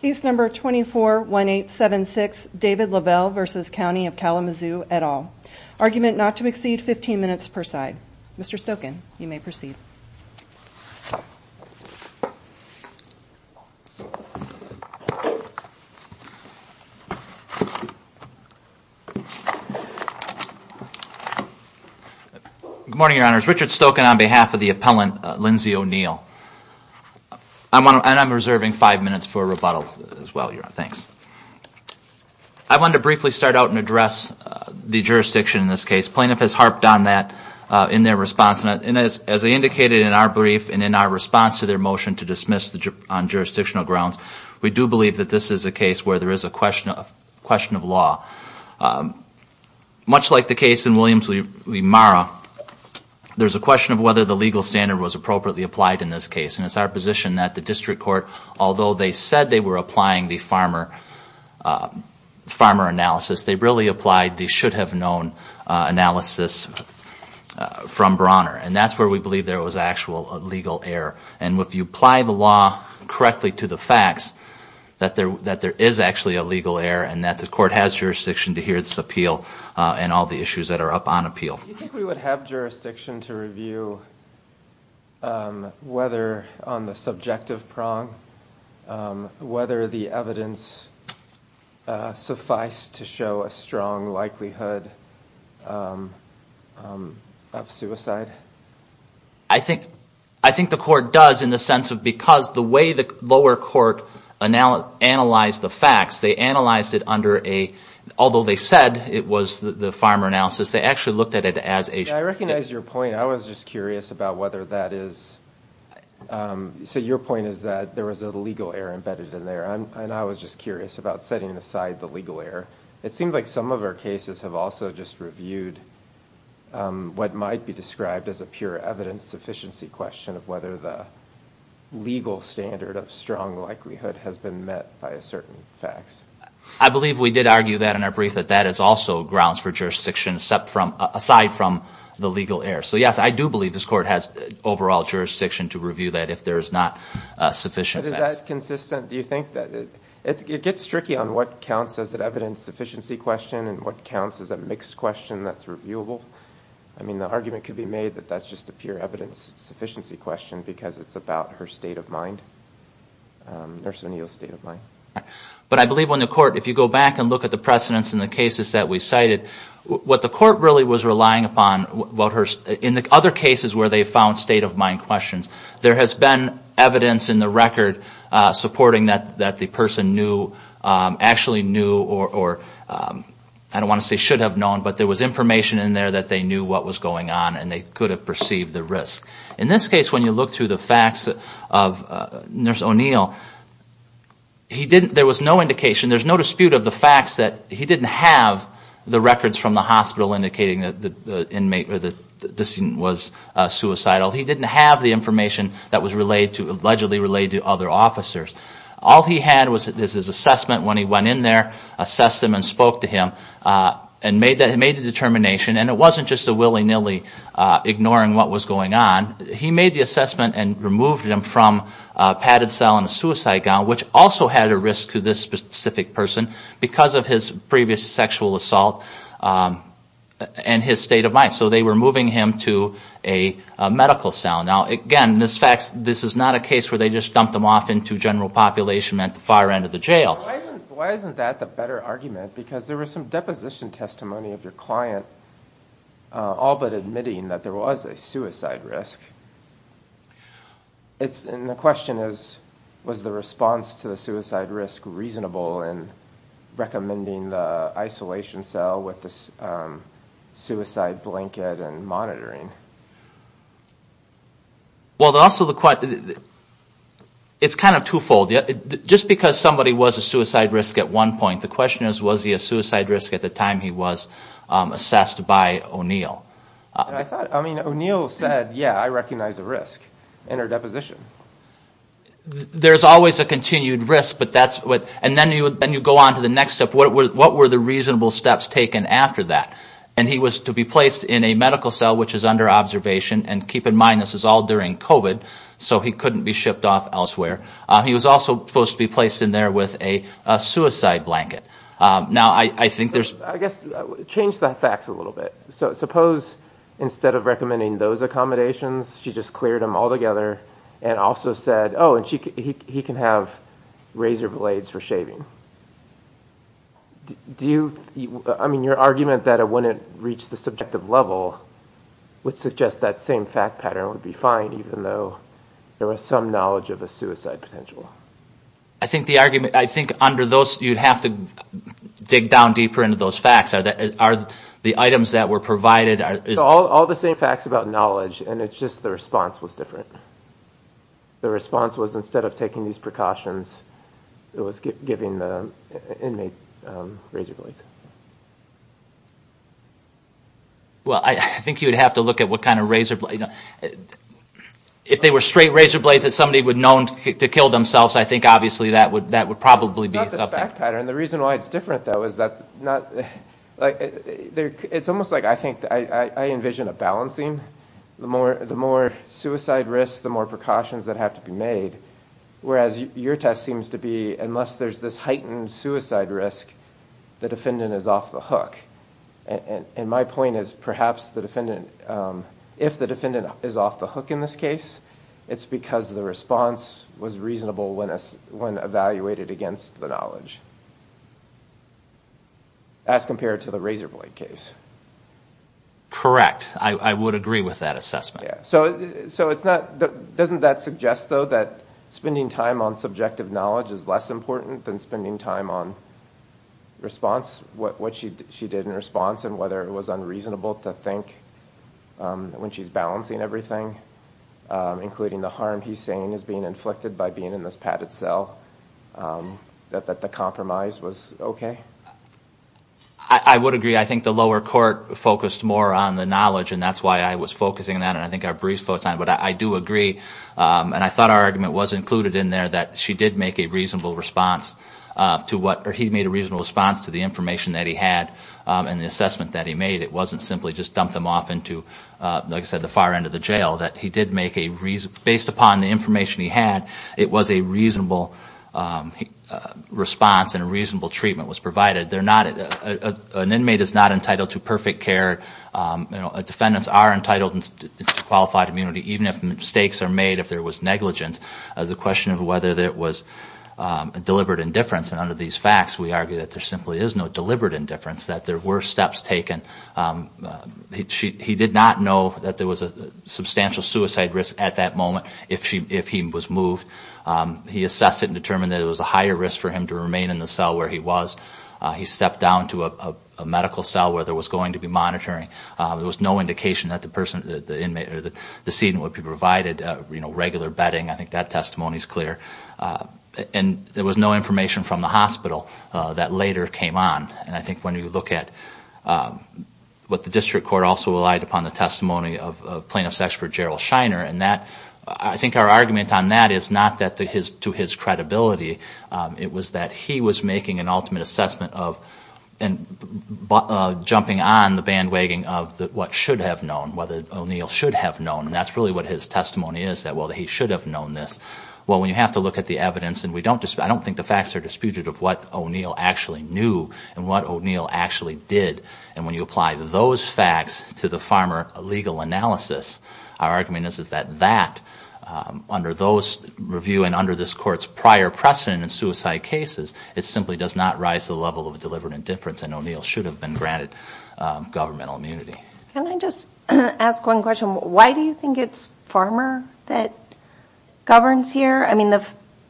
Case number 241876, David Lovell v. County of Kalamazoo, et al. Argument not to exceed 15 minutes per side. Mr. Stokin, you may proceed. Good morning, your honors. Richard Stokin on behalf of the appellant, Lindsey O'Neill. And I'm reserving five minutes for rebuttal as well, your honor. Thanks. I wanted to briefly start out and address the jurisdiction in this case. Plaintiff has harped on that in their response. And as they indicated in our brief and in our response to their motion to dismiss on jurisdictional grounds, we do believe that this is a case where there is a question of law. Much like the case in Williams v. Marra, there's a question of whether the legal standard was appropriately applied in this case. And it's our position that the district court, although they said they were applying the farmer analysis, they really applied the should-have-known analysis from Brawner. And that's where we believe there was actual legal error. And if you apply the law correctly to the facts, that there is actually a legal error, and that the court has jurisdiction to hear this appeal and all the issues that are up on appeal. Do you think we would have jurisdiction to review whether on the subjective prong, whether the evidence sufficed to show a strong likelihood of suicide? I think the court does in the sense of because the way the lower court analyzed the facts, they analyzed it under a, although they said it was the farmer analysis, they actually looked at it as a. I recognize your point. I was just curious about whether that is. So your point is that there was a legal error embedded in there. And I was just curious about setting aside the legal error. It seems like some of our cases have also just reviewed what might be described as a pure evidence sufficiency question of whether the legal standard of strong likelihood has been met by a certain facts. I believe we did argue that in our brief, that that is also grounds for jurisdiction aside from the legal error. So yes, I do believe this court has overall jurisdiction to review that if there is not sufficient facts. Is that consistent? Do you think that it gets tricky on what counts as an evidence sufficiency question and what counts as a mixed question that's reviewable? I mean, the argument could be made that that's just a pure evidence sufficiency question because it's about her state of mind, Nurse O'Neill's state of mind. But I believe when the court, if you go back and look at the precedence in the cases that we cited, what the court really was relying upon, in the other cases where they found state of mind questions, there has been evidence in the record supporting that the person knew, actually knew, or I don't want to say should have known, but there was information in there that they knew what was going on and they could have perceived the risk. In this case, when you look through the facts of Nurse O'Neill, he didn't, there was no indication, there's no dispute of the facts that he didn't have the records from the hospital indicating that the inmate, that this was suicidal. He didn't have the information that was relayed to, allegedly relayed to other officers. All he had was his assessment when he went in there, assessed him and spoke to him, and made a determination, and it wasn't just a willy-nilly ignoring what was going on. He made the assessment and removed him from a padded cell and a suicide gown, which also had a risk to this specific person because of his previous sexual assault and his state of mind. So they were moving him to a medical cell. Now, again, this is not a case where they just dumped him off into general population at the far end of the jail. Why isn't that the better argument? Because there was some deposition testimony of your client all but admitting that there was a suicide risk. And the question is, was the response to the suicide risk reasonable in recommending the isolation cell with the suicide blanket and monitoring? Well, also, it's kind of twofold. Just because somebody was a suicide risk at one point, the question is, was he a suicide risk at the time he was assessed by O'Neill? I thought, I mean, O'Neill said, yeah, I recognize a risk in our deposition. There's always a continued risk, but that's what, and then you go on to the next step. What were the reasonable steps taken after that? And he was to be placed in a medical cell, which is under observation. And keep in mind, this is all during COVID, so he couldn't be shipped off elsewhere. He was also supposed to be placed in there with a suicide blanket. Now, I think there's... I guess, change the facts a little bit. So suppose instead of recommending those accommodations, she just cleared them all together and also said, oh, and he can have razor blades for shaving. Do you, I mean, your argument that it wouldn't reach the subjective level would suggest that same fact pattern would be fine, even though there was some knowledge of a suicide potential. I think the argument, I think under those, you'd have to dig down deeper into those facts. Are the items that were provided... All the same facts about knowledge, and it's just the response was different. The response was instead of taking these precautions, it was giving the inmate razor blades. Well, I think you'd have to look at what kind of razor blade... If they were straight razor blades that somebody would have known to kill themselves, I think obviously that would probably be something. It's not the fact pattern. The reason why it's different, though, is that not... It's almost like I think, I envision a balancing. The more suicide risks, the more precautions that have to be made, whereas your test seems to be, unless there's this heightened suicide risk, the defendant is off the hook. And my point is perhaps the defendant, if the defendant is off the hook in this case, it's because the response was reasonable when evaluated against the knowledge, as compared to the razor blade case. Correct. I would agree with that assessment. So it's not... Doesn't that suggest, though, that spending time on subjective knowledge is less important than spending time on response? What she did in response and whether it was unreasonable to think when she's balancing everything, including the harm he's saying is being inflicted by being in this padded cell, that the compromise was okay? I would agree. I think the lower court focused more on the knowledge, and that's why I was focusing on that, and I think our briefs focus on it. But I do agree, and I thought our argument was included in there, that she did make a reasonable response to what... Or he made a reasonable response to the information that he had and the assessment that he made. It wasn't simply just dump them off into, like I said, the far end of the jail. That he did make a... Based upon the information he had, it was a reasonable response and a reasonable treatment was provided. An inmate is not entitled to perfect care. Defendants are entitled to qualified immunity, even if mistakes are made, if there was negligence. The question of whether there was deliberate indifference, and under these facts, we argue that there simply is no deliberate indifference, that there were steps taken. He did not know that there was a substantial suicide risk at that moment if he was moved. He assessed it and determined that it was a higher risk for him to remain in the cell where he was. He stepped down to a medical cell where there was going to be monitoring. There was no indication that the person, the inmate, or the decedent would be provided regular bedding. I think that testimony is clear. And there was no information from the hospital that later came on. And I think when you look at what the district court also relied upon, the testimony of plaintiff's expert Gerald Shiner, and I think our argument on that is not to his credibility. It was that he was making an ultimate assessment of, and jumping on the bandwagon of what should have known, what O'Neill should have known. And that's really what his testimony is, that, well, he should have known this. Well, when you have to look at the evidence, and I don't think the facts are disputed of what O'Neill actually knew and what O'Neill actually did. And when you apply those facts to the farmer legal analysis, our argument is that that, under those review and under this court's prior precedent in suicide cases, it simply does not rise to the level of a deliberate indifference, and O'Neill should have been granted governmental immunity. Can I just ask one question? Why do you think it's farmer that governs here? I mean,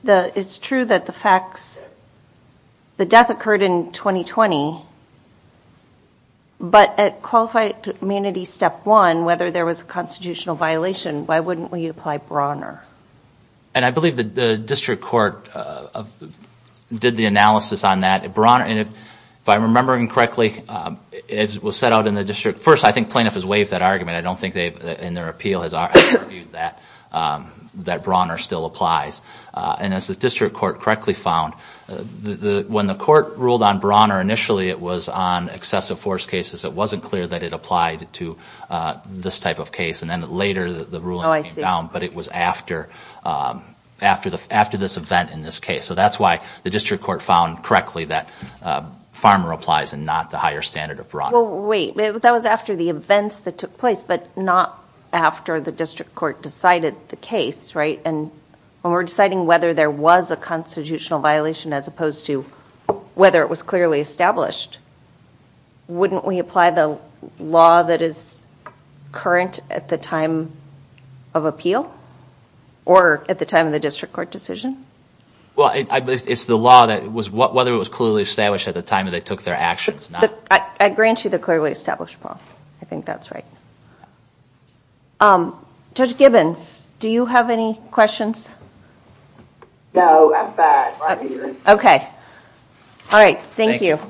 it's true that the facts, the death occurred in 2020, but at Qualified Humanities Step 1, whether there was a constitutional violation, why wouldn't we apply Brawner? And I believe the district court did the analysis on that. Brawner, and if I'm remembering correctly, as was set out in the district, first, I think plaintiff has waived that argument. I don't think they've, in their appeal, has argued that Brawner still applies. And as the district court correctly found, when the court ruled on Brawner initially, it was on excessive force cases. It wasn't clear that it applied to this type of case. And then later the ruling came down, but it was after this event in this case. So that's why the district court found correctly that farmer applies and not the higher standard of Brawner. Well, wait, that was after the events that took place, but not after the district court decided the case, right? And when we're deciding whether there was a constitutional violation, as opposed to whether it was clearly established, wouldn't we apply the law that is current at the time of appeal? Or at the time of the district court decision? Well, it's the law that was whether it was clearly established at the time they took their actions. I grant you the clearly established, Paul. I think that's right. Judge Gibbons, do you have any questions? No, I'm fine. OK. All right. Thank you.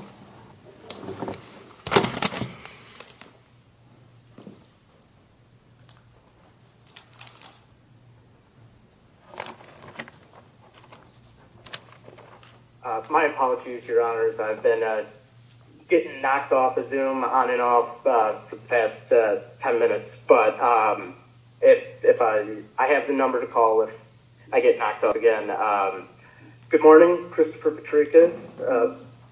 My apologies, your honors. I've been getting knocked off the zoom on and off for the past 10 minutes. But if I have the number to call, if I get knocked up again. Good morning. Christopher Patricus,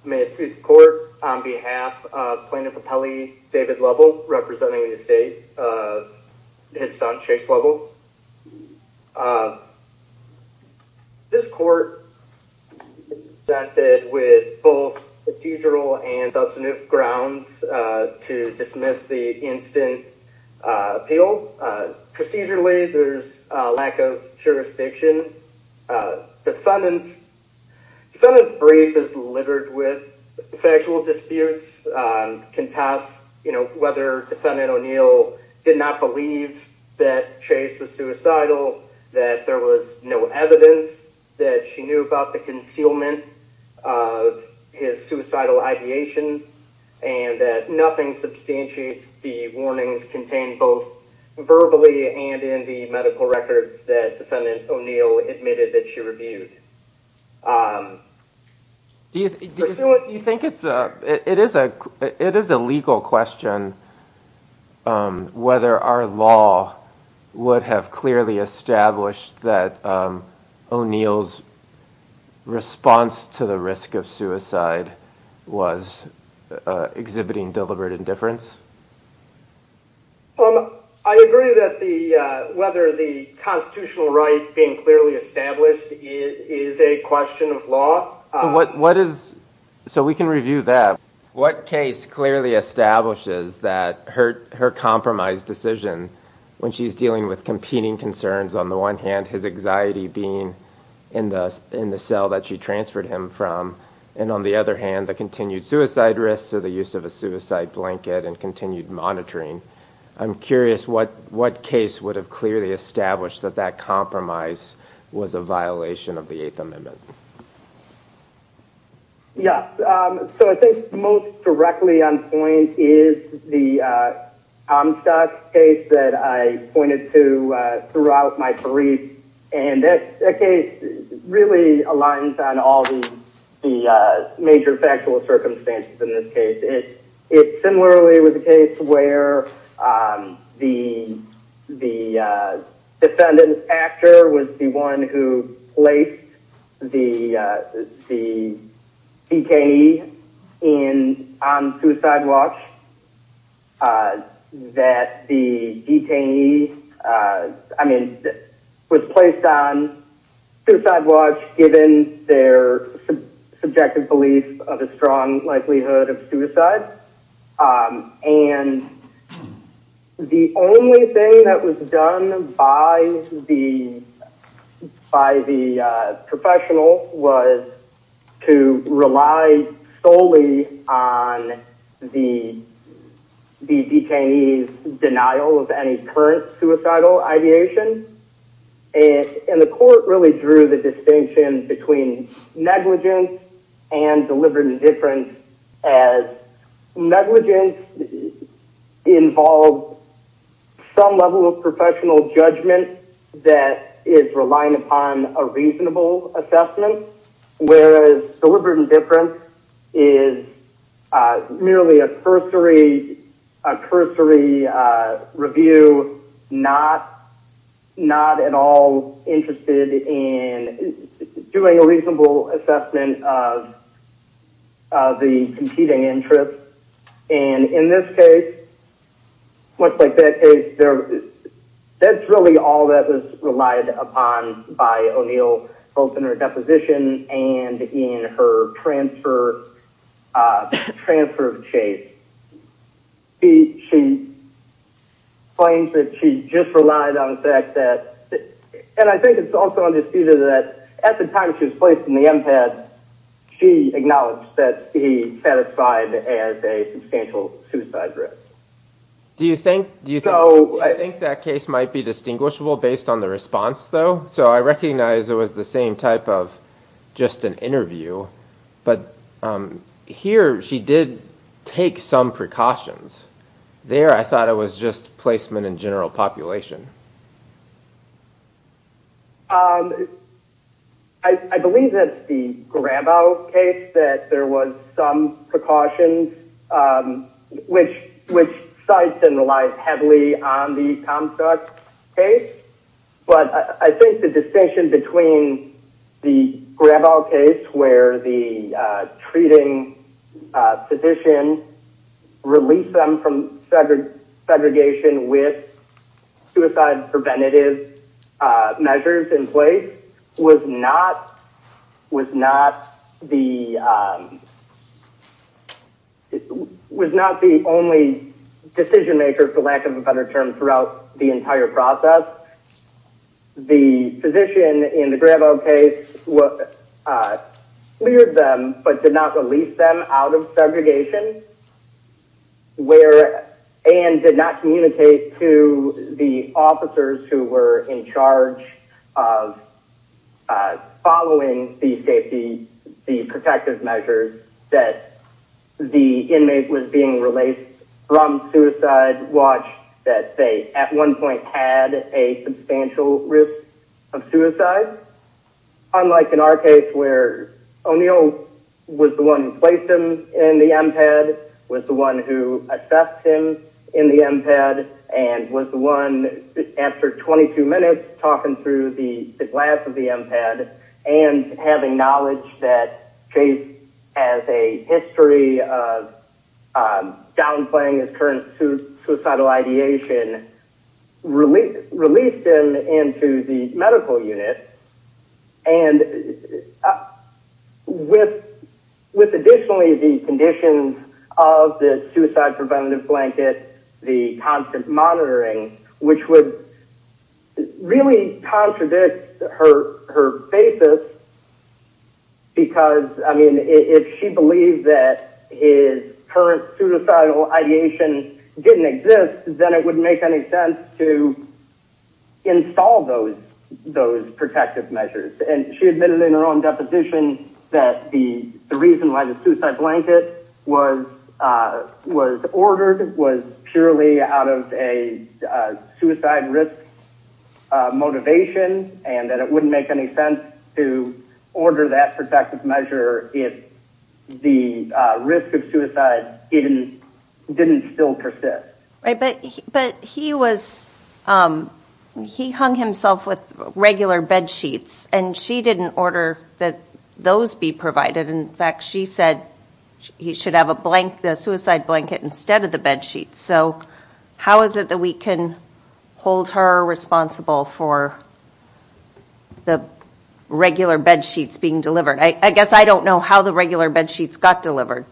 may it please the court. On behalf of Plaintiff Appellee David Lovell, representing the state, his son Chase Lovell. This court is presented with both procedural and substantive grounds to dismiss the instant appeal. Procedurally, there's a lack of jurisdiction. Defendant's brief is littered with factual disputes, contests whether Defendant O'Neill did not believe that Chase was suicidal, that there was no evidence that she knew about the concealment of his suicidal ideation, and that nothing substantiates the warnings contained both verbally and in the medical records that Defendant O'Neill admitted that she reviewed. Do you think it's a it is a it is a legal question whether our law would have clearly established that O'Neill's response to the risk of suicide was exhibiting deliberate indifference? I agree that the whether the constitutional right being clearly established is a question of law. What what is so we can review that. What case clearly establishes that hurt her compromise decision when she's dealing with competing concerns? On the one hand, his anxiety being in the in the cell that she transferred him from. And on the other hand, the continued suicide risks of the use of a suicide blanket and continued monitoring. I'm curious what what case would have clearly established that that compromise was a violation of the Eighth Amendment. Yeah, so I think most directly on point is the case that I pointed to throughout my brief. And that case really aligns on all the major factual circumstances in this case. Similarly, with the case where the the defendant actor was the one who placed the the detainee in on suicide watch that the detainee. I mean, was placed on suicide watch, given their subjective belief of a strong likelihood of suicide. And the only thing that was done by the by the professional was to rely solely on the the detainee's denial of any current suicidal ideation. And the court really drew the distinction between negligence and deliberate indifference as negligence involved some level of professional judgment that is relying upon a reasonable assessment. Whereas deliberate indifference is merely a cursory, a cursory review, not not at all interested in doing a reasonable assessment of the competing interest. And in this case, much like that case there, that's really all that was relied upon by O'Neill, both in her deposition and in her transfer, transfer case. She claims that she just relied on the fact that, and I think it's also understated that at the time she was placed in the empath, she acknowledged that he satisfied as a substantial suicide risk. So I think that case might be distinguishable based on the response, though. So I recognize it was the same type of just an interview. But here she did take some precautions there. I thought it was just placement in general population. I believe that the grab out case that there was some precautions, which, which sites and relies heavily on the construct case. But I think the distinction between the grab out case where the treating physician released them from segregation with suicide preventative measures in place was not, was not the, was not the only decision maker, for lack of a better term, throughout the entire process. The physician in the grab out case cleared them, but did not release them out of segregation. And did not communicate to the officers who were in charge of following the safety, the protective measures that the inmate was being released from suicide watch that they at one point had a substantial risk of suicide. Unlike in our case where O'Neill was the one who placed him in the empath, was the one who assessed him in the empath, and was the one after 22 minutes talking through the glass of the empath, and having knowledge that Chase has a history of downplaying his current suicidal ideation, released him into the medical unit. And with, with additionally the conditions of the suicide preventative blanket, the constant monitoring, which would really contradict her, her basis. Because, I mean, if she believed that his current suicidal ideation didn't exist, then it wouldn't make any sense to install those, those protective measures. And she admitted in her own deposition that the reason why the suicide blanket was, was ordered was purely out of a suicide risk motivation, and that it wouldn't make any sense to order that protective measure if the risk of suicide didn't still persist. Right, but, but he was, he hung himself with regular bedsheets, and she didn't order that those be provided. In fact, she said he should have a blanket, a suicide blanket instead of the bedsheets. So how is it that we can hold her responsible for the regular bedsheets being delivered? I guess I don't know how the regular bedsheets got delivered.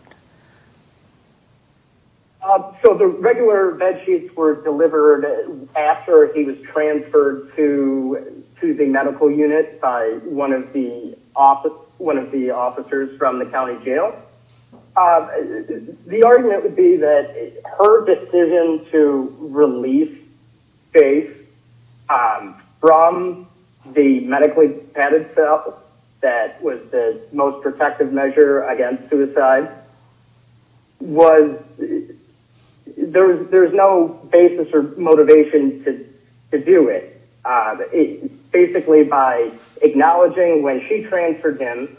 So the regular bedsheets were delivered after he was transferred to, to the medical unit by one of the office, one of the officers from the county jail. The argument would be that her decision to release Faith from the medically padded cell that was the most protective measure against suicide was, there was, there was no basis or motivation to do it. Basically by acknowledging when she transferred him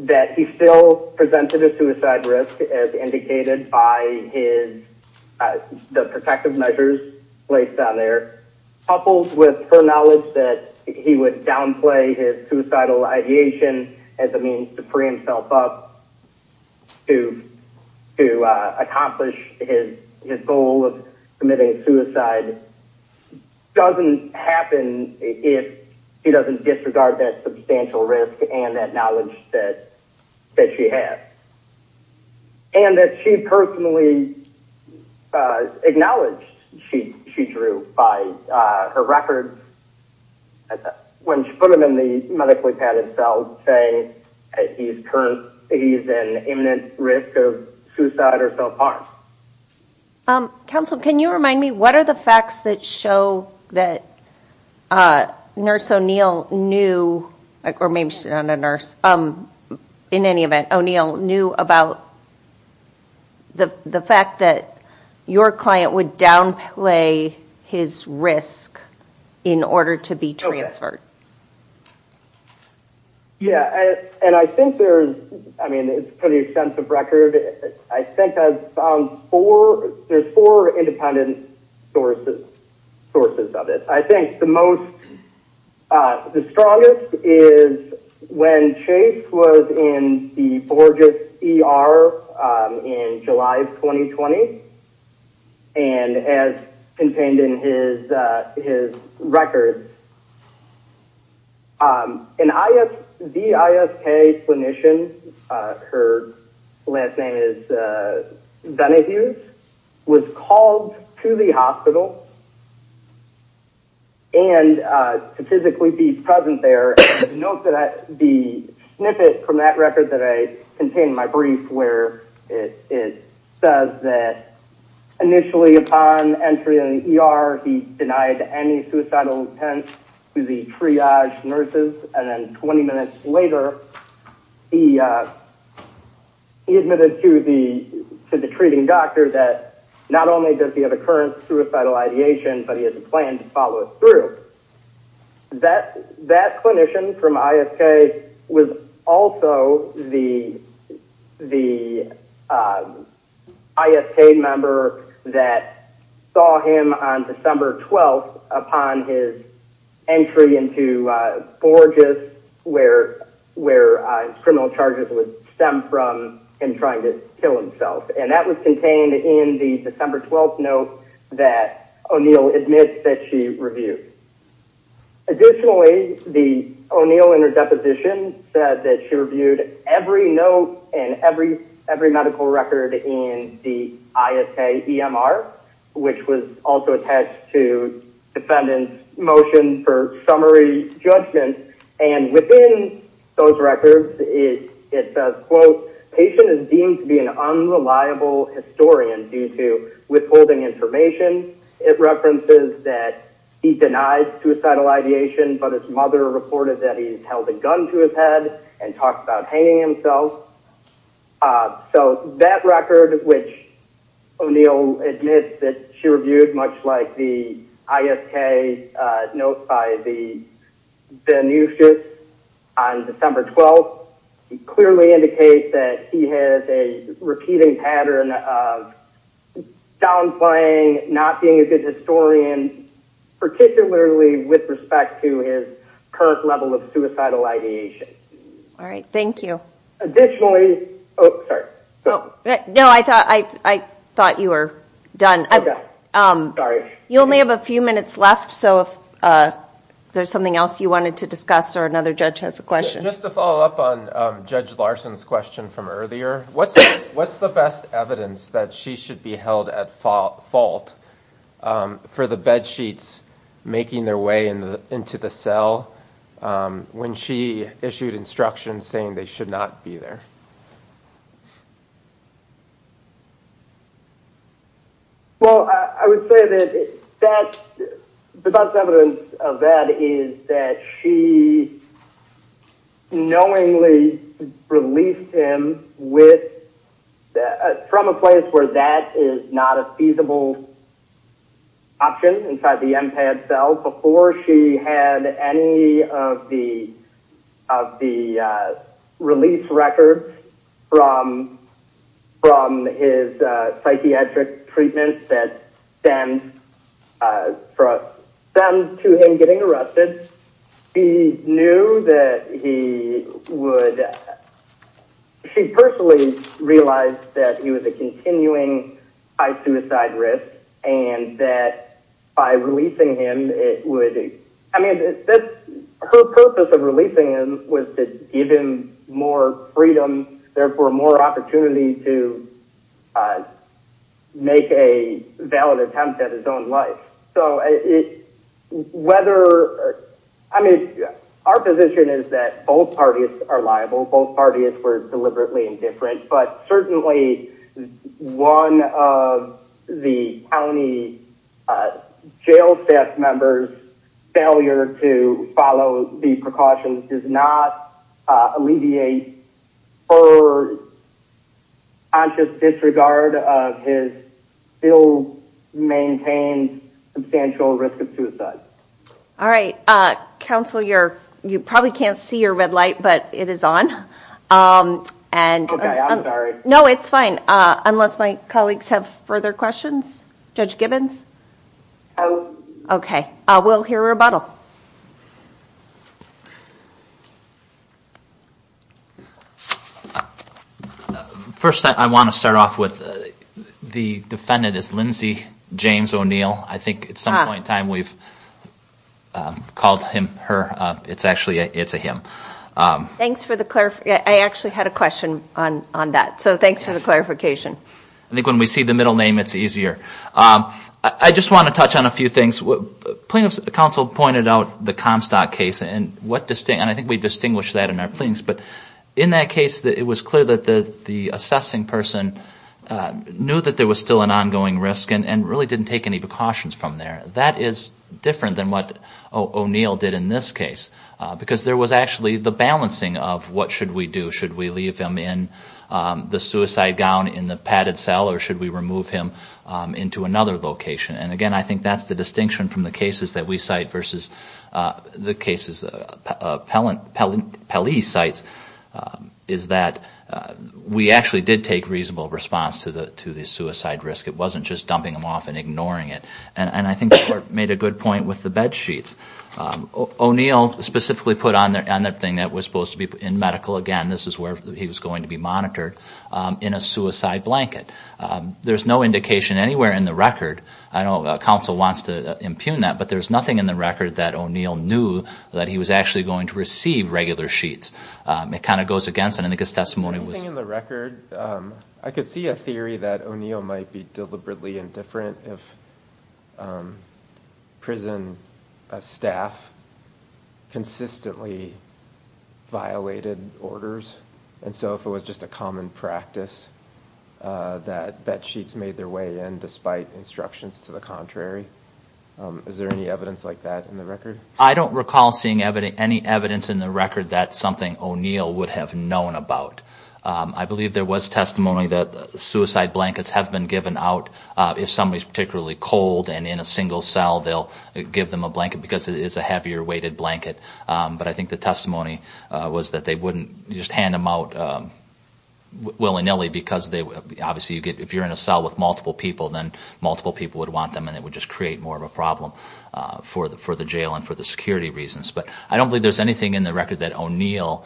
that he still presented a suicide risk as indicated by his, the protective measures placed on there, coupled with her knowledge that he would downplay his suicidal ideation as a means to free himself up to, to accomplish his, his goal of committing suicide doesn't happen if he doesn't disregard that substantial risk and that knowledge that, that she had. And that she personally acknowledged she, she drew by her records when she put him in the medically padded cell saying he's current, he's an imminent risk of suicide or self-harm. Counsel, can you remind me, what are the facts that show that nurse O'Neill knew, or maybe she's not a nurse, in any event, O'Neill knew about the fact that your client would downplay his risk in order to be transferred? Yeah, and I think there's, I mean, it's pretty extensive record. I think I've found four, there's four independent sources, sources of it. I think the most, the strongest is when Chase was in the Borges ER in July of 2020, and as contained in his, his records, an IS, the ISK clinician, her last name is Benahus, was called to the hospital and to physically be present there. Note that the snippet from that record that I contained in my brief where it says that initially upon entry in the ER, he denied any suicidal intent to the triage nurses. And then 20 minutes later, he admitted to the, to the treating doctor that not only does he have a current suicidal ideation, but he has a plan to follow it through. That, that clinician from ISK was also the, the ISK member that saw him on December 12th upon his entry into Borges where, where criminal charges would stem from him trying to kill himself. And that was contained in the December 12th note that O'Neill admits that she reviewed. Additionally, the O'Neill in her deposition said that she reviewed every note and every, every medical record in the ISK EMR, which was also attached to defendant's motion for summary judgment. And within those records, it says, quote, patient is deemed to be an unreliable historian due to withholding information. It references that he denied suicidal ideation, but his mother reported that he held a gun to his head and talked about hanging himself. So that record, which O'Neill admits that she reviewed much like the ISK notes by the, the nurses on December 12th, clearly indicates that he has a repeating pattern of downplaying, not being a good historian, particularly with respect to his current level of suicidal ideation. All right. Thank you. Additionally. Oh, sorry. No, I thought, I thought you were done. I'm sorry. You only have a few minutes left. So if there's something else you wanted to discuss or another judge has a question. Just to follow up on Judge Larson's question from earlier, what's, what's the best evidence that she should be held at fault for the bed sheets, making their way into the cell. When she issued instructions saying they should not be there. Well, I would say that that's the best evidence of that is that she knowingly released him with that from a place where that is not a feasible option inside the MPAD cell before she had any of the, of the release record. From, from his psychiatric treatment that stemmed from stemmed to him getting arrested. He knew that he would, she personally realized that he was a continuing high suicide risk and that by releasing him, it would, I mean, her purpose of releasing him was to give him more freedom, therefore more opportunity to make a valid attempt at his own life. So it, whether, I mean, our position is that both parties are liable. Both parties were deliberately indifferent, but certainly one of the county jail staff members failure to follow the precautions does not alleviate or conscious disregard of his still maintained substantial risk of suicide. All right. Council, you're, you probably can't see your red light, but it is on. And no, it's fine. Unless my colleagues have further questions. Judge Gibbons. Okay. We'll hear a rebuttal. First, I want to start off with the defendant is Lindsay, James O'Neill. I think at some point in time we've called him, her, it's actually, it's a him. Thanks for the, I actually had a question on that. So thanks for the clarification. I think when we see the middle name, it's easier. I just want to touch on a few things. Plaintiff's counsel pointed out the Comstock case and what, and I think we distinguish that in our plaintiffs, but in that case it was clear that the assessing person knew that there was still an ongoing risk and really didn't take any precautions from there. That is different than what O'Neill did in this case. Because there was actually the balancing of what should we do? Should we leave him in the suicide gown in the padded cell or should we remove him into another location? And again, I think that's the distinction from the cases that we cite versus the cases Pelley cites is that we actually did take reasonable response to the suicide risk. It wasn't just dumping him off and ignoring it. And I think you made a good point with the bed sheets. O'Neill specifically put on that thing that was supposed to be in medical, again, this is where he was going to be monitored, in a suicide blanket. There's no indication anywhere in the record. I know counsel wants to impugn that, but there's nothing in the record that O'Neill knew that he was actually going to receive regular sheets. It kind of goes against it. I think his testimony was... On the record, I could see a theory that O'Neill might be deliberately indifferent if prison staff consistently violated orders. And so if it was just a common practice that bed sheets made their way in despite instructions to the contrary. Is there any evidence like that in the record? I don't recall seeing any evidence in the record that something O'Neill would have known about. I believe there was testimony that suicide blankets have been given out if somebody is particularly cold and in a single cell. They'll give them a blanket because it is a heavier weighted blanket. But I think the testimony was that they wouldn't just hand them out willy-nilly because obviously if you're in a cell with multiple people, then multiple people would want them and it would just create more of a problem for the jail and for the security reasons. But I don't believe there's anything in the record that O'Neill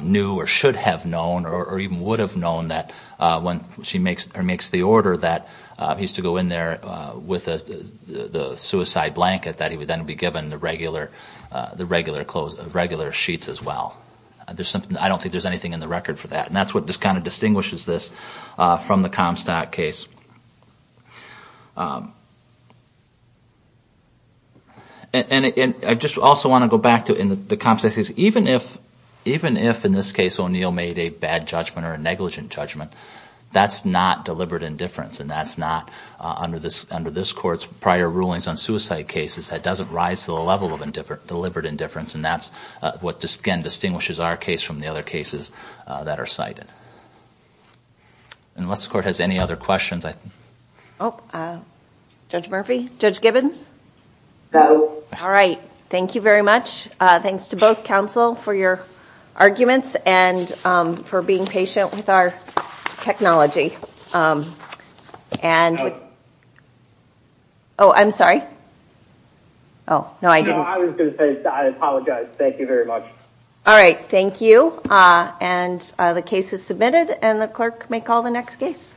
knew or should have known or even would have known that when she makes the order that he's to go in there with the suicide blanket that he would then be given the regular sheets as well. I don't think there's anything in the record for that. And that's what just kind of distinguishes this from the Comstock case. And I just also want to go back to the Comstock case. Even if in this case O'Neill made a bad judgment or a negligent judgment, that's not deliberate indifference. And that's not under this court's prior rulings on suicide cases, that doesn't rise to the level of deliberate indifference. And that's what, again, distinguishes our case from the other cases that are cited. Unless the court has any other questions. Judge Murphy? Judge Gibbons? No. All right. Thank you very much. Thanks to both counsel for your arguments and for being patient with our technology. Oh, I'm sorry. Oh, no, I didn't. No, I was going to say I apologize. Thank you very much. All right. Thank you. And the case is submitted and the clerk may call the next case.